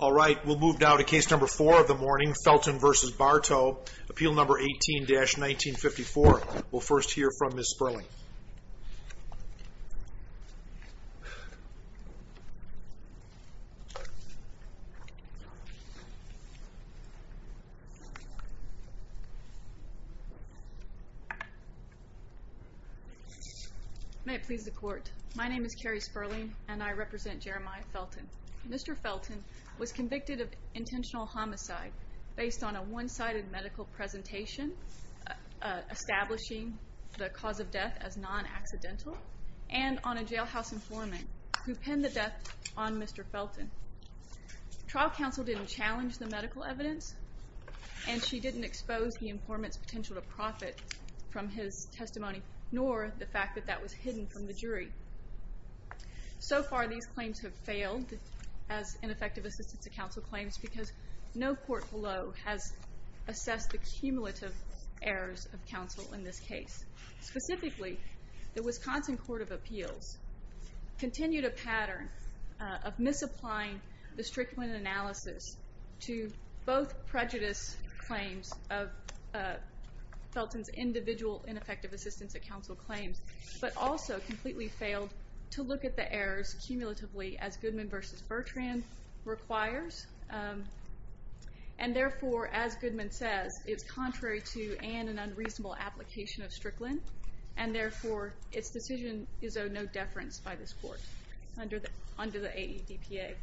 All right, we'll move now to case number four of the morning, Felton v. Bartow, appeal number 18-1954. We'll first hear from Ms. Sperling. May it please the Court, my name is Carrie Sperling and I represent Jeremiah Felton. Mr. Felton was convicted of intentional homicide based on a one-sided medical presentation establishing the cause of death as non-accidental, and on a jailhouse informant who penned the death on Mr. Felton. Trial counsel didn't challenge the medical evidence, and she didn't expose the informant's potential to profit from his testimony, nor the fact that that was hidden from the jury. So far these claims have failed as ineffective assistance at counsel claims, because no court below has assessed the cumulative errors of counsel in this case. Specifically, the Wisconsin Court of Appeals continued a pattern of misapplying the strictly analysis to both prejudice claims of Felton's individual ineffective assistance at counsel claims, but also completely failed to look at the errors cumulatively as Goodman v. Bertrand requires, and therefore, as Goodman says, it's contrary to and an unreasonable application of Strickland, and therefore, its decision is of no deference by this court under the AEDPA.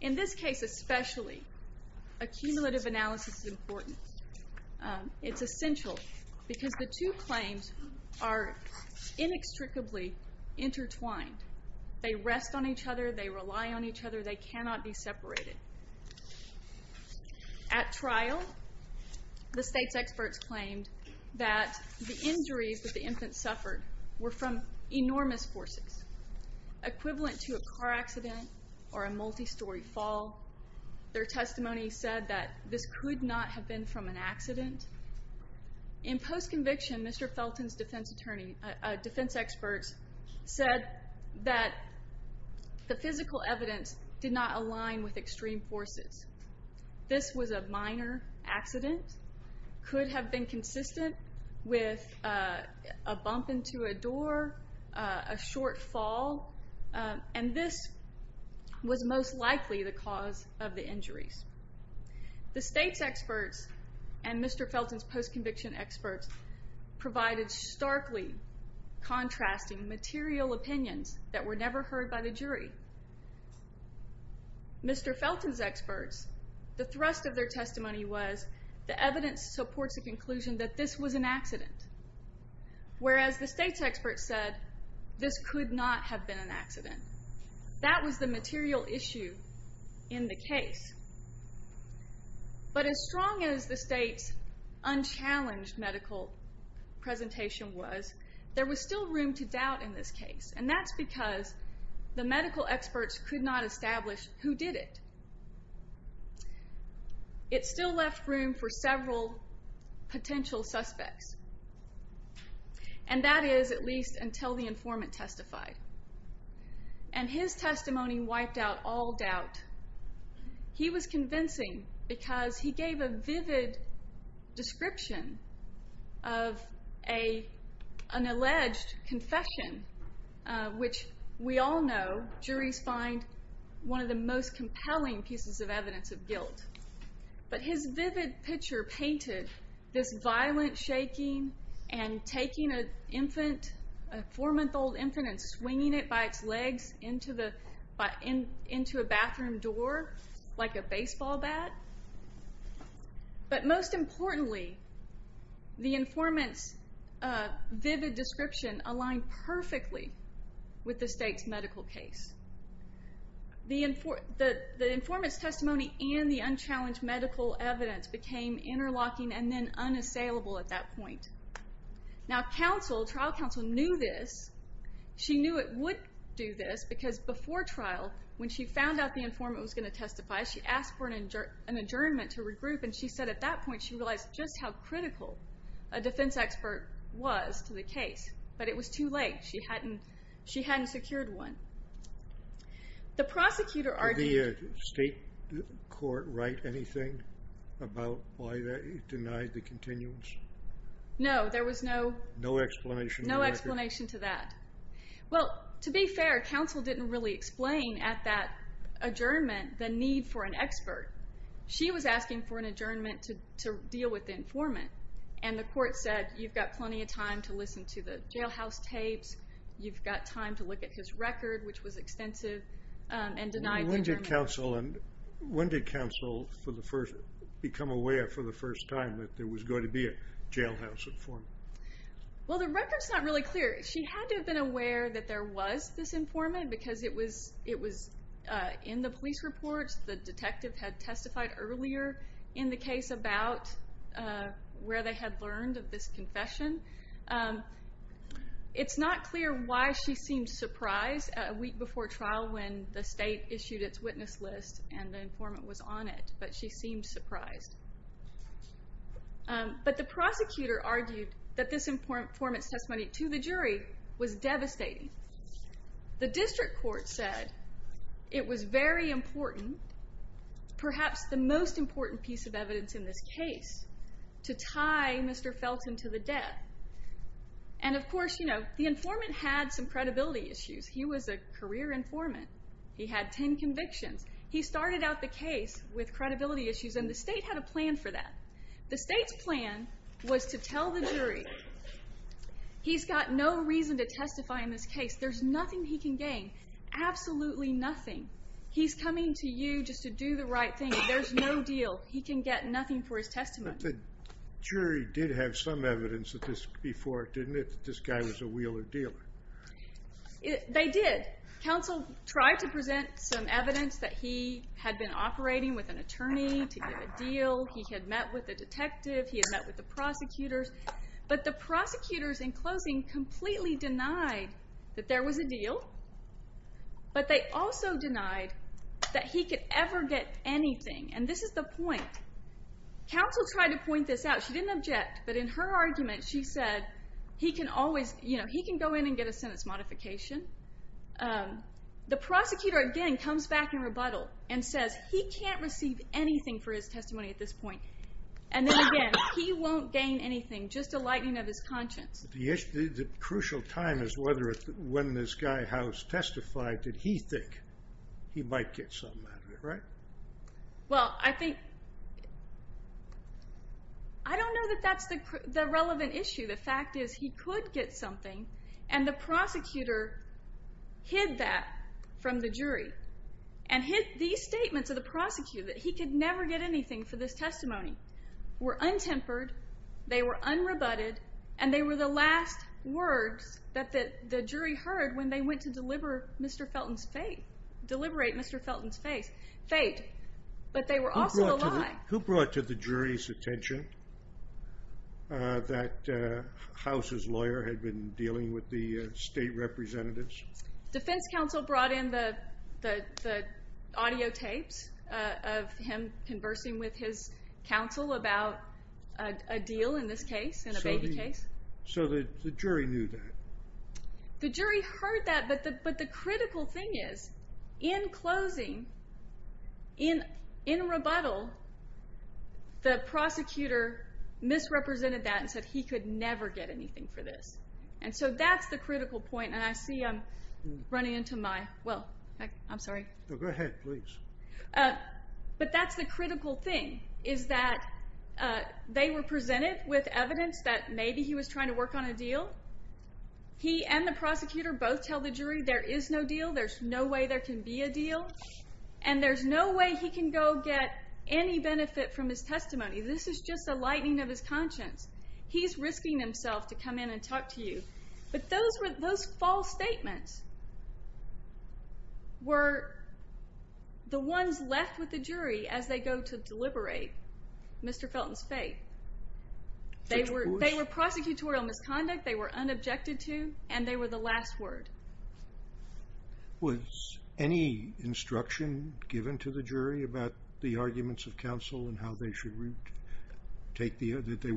In this case especially, a cumulative analysis is important. It's essential, because the two claims are inextricably intertwined. They rest on each other, they rely on each other, they cannot be separated. At trial, the state's experts claimed that the injuries that the infant suffered were from enormous forces, equivalent to a car accident or a multi-story fall. Their testimony said that this could not have been from an accident. In post-conviction, Mr. Felton's defense experts said that the physical evidence did not align with extreme forces. This was a minor accident, could have been consistent with a bump into a door, a short fall, and this was most likely the cause of the injuries. The state's experts and Mr. Felton's post-conviction experts provided starkly contrasting material opinions that were never heard by the jury. Mr. Felton's experts, the thrust of their testimony was the evidence supports the conclusion that this was an accident, whereas the state's But as strong as the state's unchallenged medical presentation was, there was still room to doubt in this case, and that's because the medical experts could not establish who did it. It still left room for several potential suspects, and that is at least until the because he gave a vivid description of an alleged confession, which we all know juries find one of the most compelling pieces of evidence of guilt. But his vivid picture painted this violent shaking and taking a four-month-old infant and swinging it by its legs into a baseball bat, but most importantly, the informant's vivid description aligned perfectly with the state's medical case. The informant's testimony and the unchallenged medical evidence became interlocking and then unassailable at that point. Now trial counsel knew this. She knew it would do this because before trial, when she found out the informant was going to testify, she asked for an adjournment to regroup, and she said at that point she realized just how critical a defense expert was to the case, but it was too late. She hadn't secured one. The prosecutor argued... Did the state court write anything about why they denied the continuance? No, there was no... No explanation to that. Well, to be fair, counsel didn't really explain at that adjournment the need for an expert. She was asking for an adjournment to deal with the informant, and the court said, you've got plenty of time to listen to the jailhouse tapes, you've got time to look at his record, which was extensive, and denied the adjournment. When did counsel become aware for the first time that there was going to be a jailhouse informant? Well, the record's not really clear. She had to have been aware that there was this informant because it was in the police reports. The detective had testified earlier in the case about where they had learned of this confession. It's not clear why she seemed surprised a week before trial when the state issued its witness list and the informant was on it, but she seemed surprised. But the prosecutor argued that this informant's testimony to the jury was devastating. The district court said it was very important, perhaps the most important piece of evidence in this case, to tie Mr. Felton to the death. And, of course, the informant had some credibility issues. He was a career informant. He had 10 convictions. He started out the case with credibility issues, and the state had a plan for that. The state's plan was to tell the jury, he's got no reason to testify in this case. There's nothing he can gain, absolutely nothing. He's coming to you just to do the right thing. There's no deal. He can get nothing for his testimony. But the jury did have some evidence before it, didn't it, that this guy was a Wheeler dealer? They did. Counsel tried to present some evidence that he had been operating with an attorney to get a deal. He had met with a detective. He had met with the prosecutors. But the prosecutors, in closing, completely denied that there was a deal, but they also denied that he could ever get anything, and this is the point. Counsel tried to point this out. She didn't object, but in her argument she said, he can go in and get a sentence modification. The prosecutor, again, comes back in rebuttal and says, he can't receive anything for his testimony at this point. And then again, he won't gain anything, just a lightening of his conscience. The crucial time is when this guy, House, testified, did he think he might get something out of it, right? Well, I think, I don't know that that's the relevant issue. The fact is he could get something, and the prosecutor hid that from the jury and hid these statements of the prosecutor, that he could never get anything for this testimony, were untempered, they were unrebutted, and they were the last words that the jury heard when they went to deliver Mr. Felton's fate, deliberate Mr. Felton's fate. But they were also a lie. Who brought to the jury's attention that House's lawyer had been dealing with the state representatives? Defense counsel brought in the audio tapes of him conversing with his counsel about a deal in this case, in a baby case. So the jury knew that? The jury heard that, but the critical thing is, in closing, in rebuttal, the prosecutor misrepresented that and said he could never get anything for this. And so that's the critical point, and I see I'm running into my, well, I'm sorry. Go ahead, please. But that's the critical thing, is that they were presented with evidence that maybe he was trying to work on a deal, he and the prosecutor both tell the jury there is no deal, there's no way there can be a deal, and there's no way he can go get any benefit from his testimony. This is just a lightening of his conscience. He's risking himself to come in and talk to you. But those false statements were the ones left with the jury as they go to deliberate Mr. Felton's fate. They were prosecutorial misconduct. They were unobjected to, and they were the last word. Was any instruction given to the jury about the arguments of counsel and how they should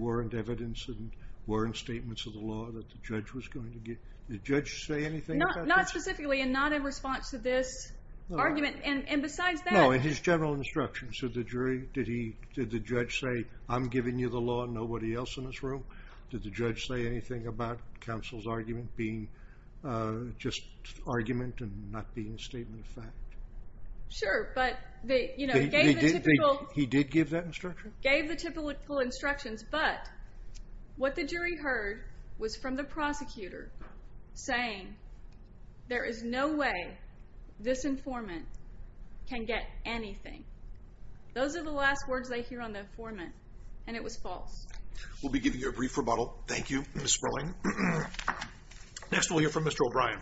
warrant evidence and warrant statements of the law that the judge was going to give? Did the judge say anything about this? Not specifically, and not in response to this argument, and besides that. In his general instructions to the jury, did the judge say, I'm giving you the law and nobody else in this room? Did the judge say anything about counsel's argument being just argument and not being a statement of fact? Sure, but they gave the typical instructions. He did give that instruction? Gave the typical instructions, but what the jury heard was from the prosecutor saying there is no way this informant can get anything. Those are the last words they hear on the informant, and it was false. We'll be giving you a brief rebuttal. Thank you, Ms. Sperling. Next we'll hear from Mr. O'Brien.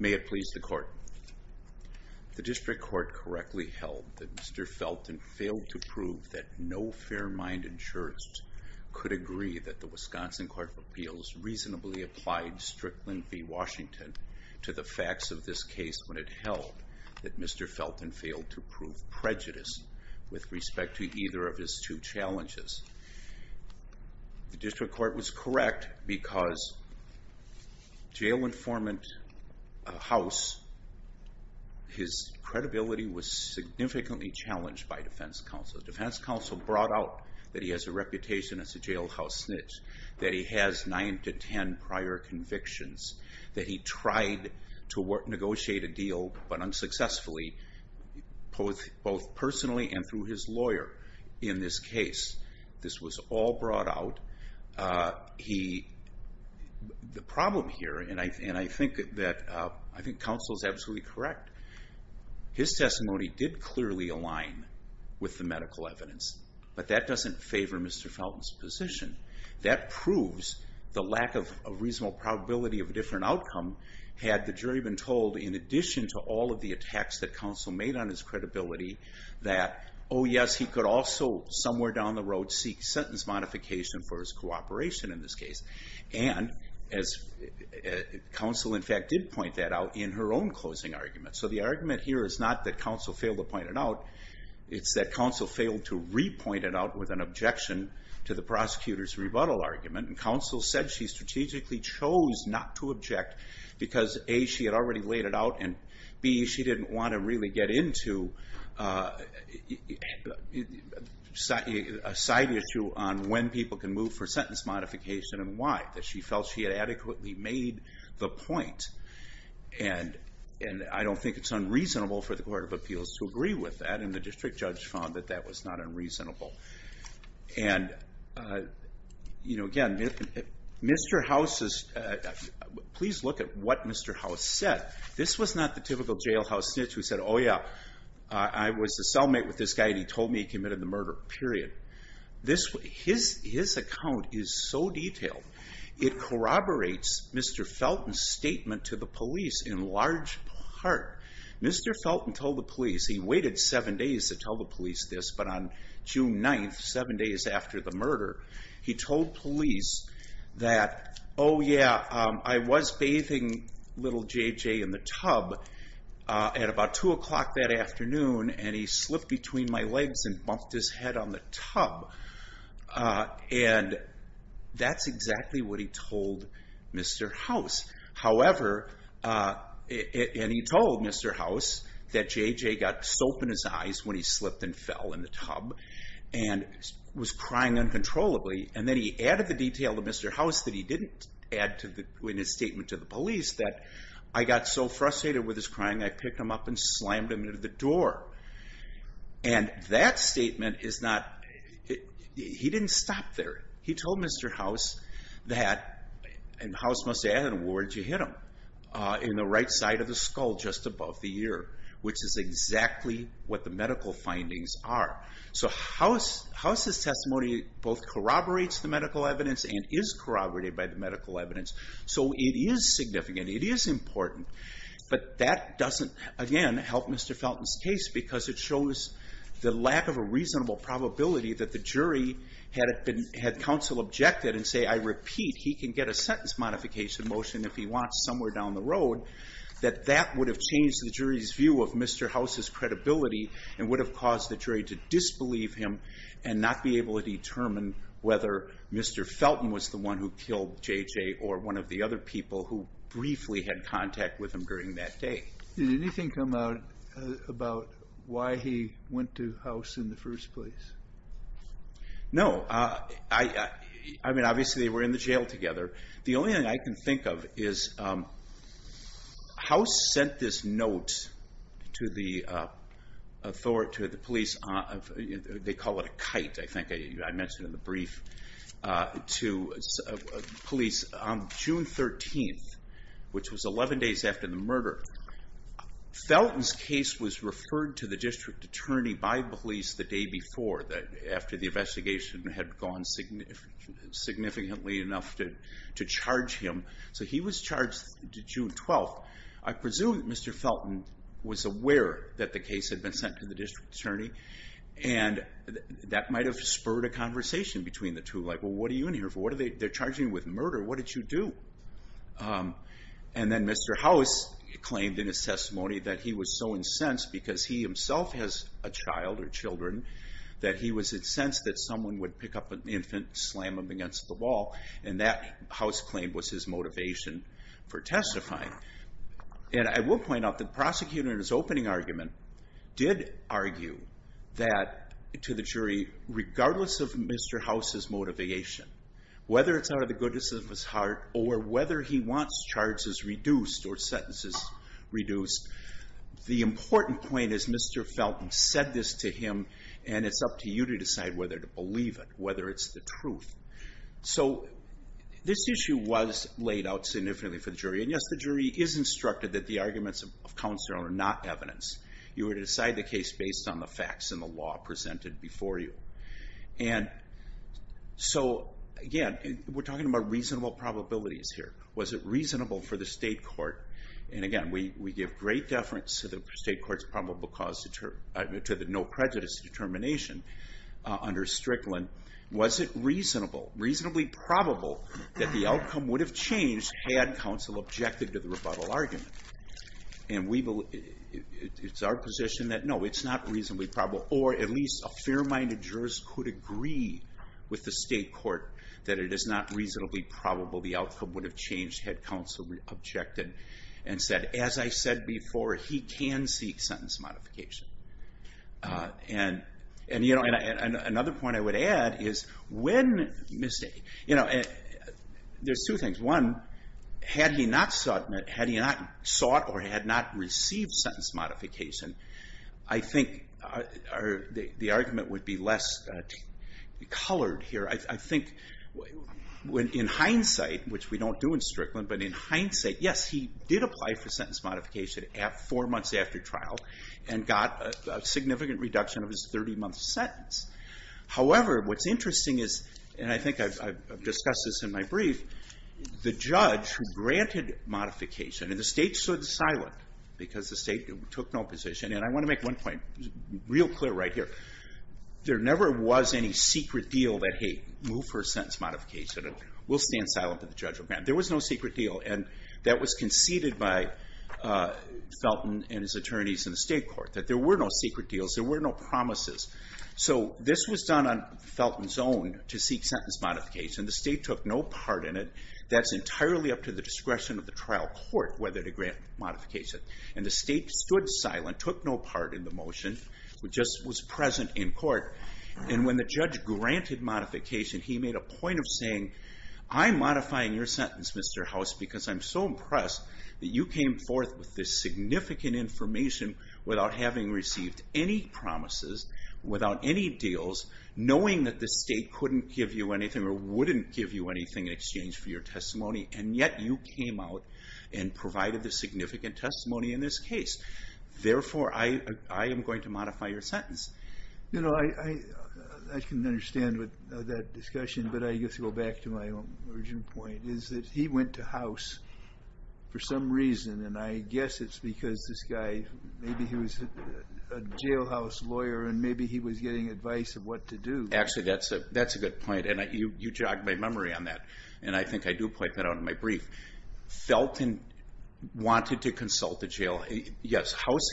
May it please the court. The district court correctly held that Mr. Felton failed to prove that no fair-minded jurist could agree that the Wisconsin Court of Appeals reasonably applied Strickland v. Washington to the facts of this case when it held that Mr. Felton failed to prove prejudice with respect to either of his two challenges. The district court was correct because jail informant House, his credibility was significantly challenged by defense counsel. Defense counsel brought out that he has a reputation as a jailhouse snitch, that he has nine to ten prior convictions, that he tried to negotiate a deal, but unsuccessfully, both personally and through his lawyer in this case. This was all brought out. The problem here, and I think counsel is absolutely correct, his testimony did clearly align with the medical evidence, but that doesn't favor Mr. Felton's position. That proves the lack of reasonable probability of a different outcome had the jury been told, in addition to all of the attacks that counsel made on his credibility, that, oh yes, he could also somewhere down the road seek sentence modification for his cooperation in this case. And counsel, in fact, did point that out in her own closing argument. So the argument here is not that counsel failed to point it out. It's that counsel failed to re-point it out with an objection to the prosecutor's rebuttal argument. Counsel said she strategically chose not to object because A, she had already laid it out, and B, she didn't want to really get into a side issue on when people can move for sentence modification and why. She felt she had adequately made the point. And I don't think it's unreasonable for the Court of Appeals to agree with that, and the district judge found that that was not unreasonable. And again, please look at what Mr. House said. This was not the typical jailhouse snitch who said, oh yeah, I was a cellmate with this guy and he told me he committed the murder, period. His account is so detailed, it corroborates Mr. Felton's statement to the police in large part. Mr. Felton told the police, he waited seven days to tell the police this, but on June 9th, seven days after the murder, he told police that, oh yeah, I was bathing little J.J. in the tub at about 2 o'clock that afternoon and he slipped between my legs and bumped his head on the tub. And that's exactly what he told Mr. House. However, and he told Mr. House that J.J. got soap in his eyes when he slipped and fell in the tub and was crying uncontrollably, and then he added the detail to Mr. House that he didn't add in his statement to the police that, I got so frustrated with his crying, I picked him up and slammed him into the door. And that statement is not, he didn't stop there. He told Mr. House that, and House must have added, where did you hit him? In the right side of the skull, just above the ear, which is exactly what the medical findings are. So House's testimony both corroborates the medical evidence and is corroborated by the medical evidence. So it is significant, it is important, but that doesn't, again, help Mr. Felton's case because it shows the lack of a reasonable probability that the jury had counsel objected and say, I repeat, he can get a sentence modification motion if he wants somewhere down the road, that that would have changed the jury's view of Mr. House's credibility and would have caused the jury to disbelieve him and not be able to determine whether Mr. Felton was the one who killed J.J. or one of the other people who briefly had contact with him during that day. Did anything come out about why he went to House in the first place? No. I mean, obviously they were in the jail together. The only thing I can think of is House sent this note to the police, they call it a kite, I think I mentioned in the brief, to police on June 13th, which was 11 days after the murder. Felton's case was referred to the district attorney by police the day before, after the investigation had gone significantly enough to charge him. So he was charged June 12th. I presume Mr. Felton was aware that the case had been sent to the district attorney and that might have spurred a conversation between the two, like, well, what are you in here for? They're charging you with murder. What did you do? And then Mr. House claimed in his testimony that he was so incensed because he himself has a child or children that he was incensed that someone would pick up an infant, slam him against the wall, and that, House claimed, was his motivation for testifying. And I will point out that the prosecutor in his opening argument did argue that, to the jury, regardless of Mr. House's motivation, whether it's out of the goodness of his heart or whether he wants charges reduced or sentences reduced, the important point is Mr. Felton said this to him, and it's up to you to decide whether to believe it, whether it's the truth. So this issue was laid out significantly for the jury, and, yes, the jury is instructed that the arguments of counsel are not evidence. You are to decide the case based on the facts and the law presented before you. And so, again, we're talking about reasonable probabilities here. Was it reasonable for the state court, and, again, we give great deference to the state court's probable cause, to the no prejudice determination under Strickland. Was it reasonable, reasonably probable, that the outcome would have changed had counsel objected to the rebuttal argument? And it's our position that, no, it's not reasonably probable, or at least a fair-minded jurist could agree with the state court that it is not reasonably probable the outcome would have changed had counsel objected and said, as I said before, he can seek sentence modification. And, you know, another point I would add is when, you know, there's two things. One, had he not sought or had not received sentence modification, I think the argument would be less colored here. I think in hindsight, which we don't do in Strickland, but in hindsight, yes, he did apply for sentence modification four months after trial and got a significant reduction of his 30-month sentence. However, what's interesting is, and I think I've discussed this in my brief, the judge who granted modification, and the state stood silent because the state took no position. And I want to make one point real clear right here. There never was any secret deal that, hey, move for sentence modification and we'll stand silent until the judge will grant it. There was no secret deal. And that was conceded by Felton and his attorneys in the state court, that there were no secret deals, there were no promises. So this was done on Felton's own to seek sentence modification. The state took no part in it. That's entirely up to the discretion of the trial court whether to grant modification. And the state stood silent, took no part in the motion, just was present in court. And when the judge granted modification, he made a point of saying, I'm modifying your sentence, Mr. House, because I'm so impressed that you came forth with this significant information without having received any promises, without any deals, knowing that the state couldn't give you anything or wouldn't give you anything in exchange for your testimony, and yet you came out and provided the significant testimony in this case. Therefore, I am going to modify your sentence. You know, I can understand that discussion, but I guess to go back to my origin point is that he went to House for some reason, and I guess it's because this guy, maybe he was a jailhouse lawyer and maybe he was getting advice of what to do. Actually, that's a good point, and you jogged my memory on that, and I think I do point that out in my brief. Felton wanted to consult the jailhouse. Yes, House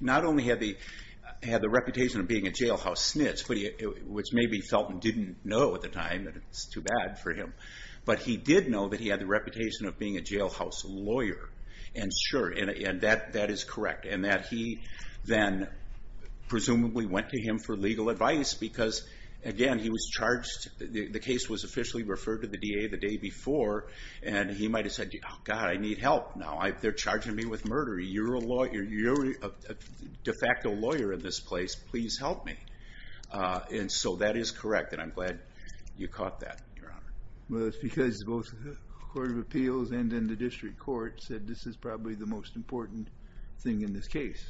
not only had the reputation of being a jailhouse snitch, which maybe Felton didn't know at the time, and it's too bad for him, but he did know that he had the reputation of being a jailhouse lawyer. And sure, that is correct. And that he then presumably went to him for legal advice because, again, he was charged. The case was officially referred to the DA the day before, and he might have said, God, I need help now. They're charging me with murder. You're a de facto lawyer in this place. Please help me. And so that is correct, and I'm glad you caught that, Your Honor. Well, it's because both the Court of Appeals and then the district court said this is probably the most important thing in this case.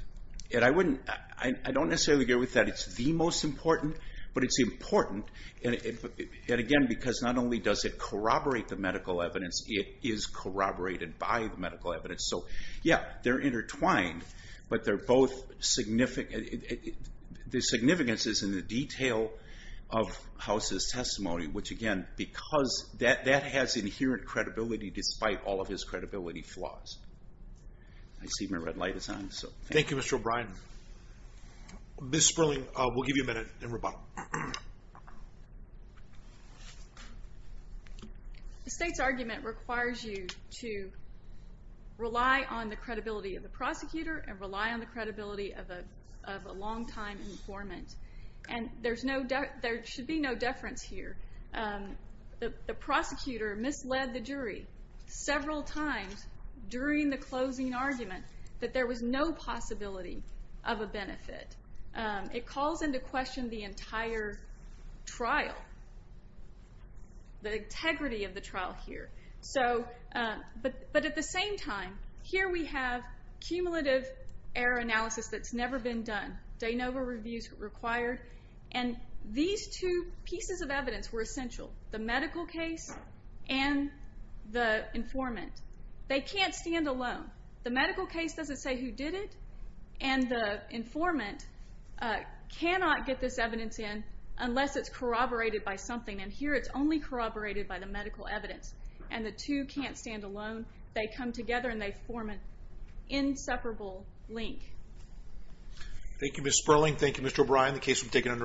I don't necessarily agree with that. It's the most important, but it's important, and, again, because not only does it corroborate the medical evidence, it is corroborated by the medical evidence. So, yeah, they're intertwined, but they're both significant. The significance is in the detail of House's testimony, which, again, because that has inherent credibility despite all of his credibility flaws. I see my red light is on, so thank you. Thank you, Mr. O'Brien. Ms. Sperling, we'll give you a minute in rebuttal. The State's argument requires you to rely on the credibility of the prosecutor and rely on the credibility of a longtime informant. And there should be no deference here. The prosecutor misled the jury several times during the closing argument that there was no possibility of a benefit. It calls into question the entire trial, the integrity of the trial here. But at the same time, here we have cumulative error analysis that's never been done. De novo reviews required. And these two pieces of evidence were essential, the medical case and the informant. They can't stand alone. The medical case doesn't say who did it, and the informant cannot get this evidence in unless it's corroborated by something. And here it's only corroborated by the medical evidence, and the two can't stand alone. They come together and they form an inseparable link. Thank you, Ms. Sperling. Thank you, Mr. O'Brien. The case will be taken under advisement.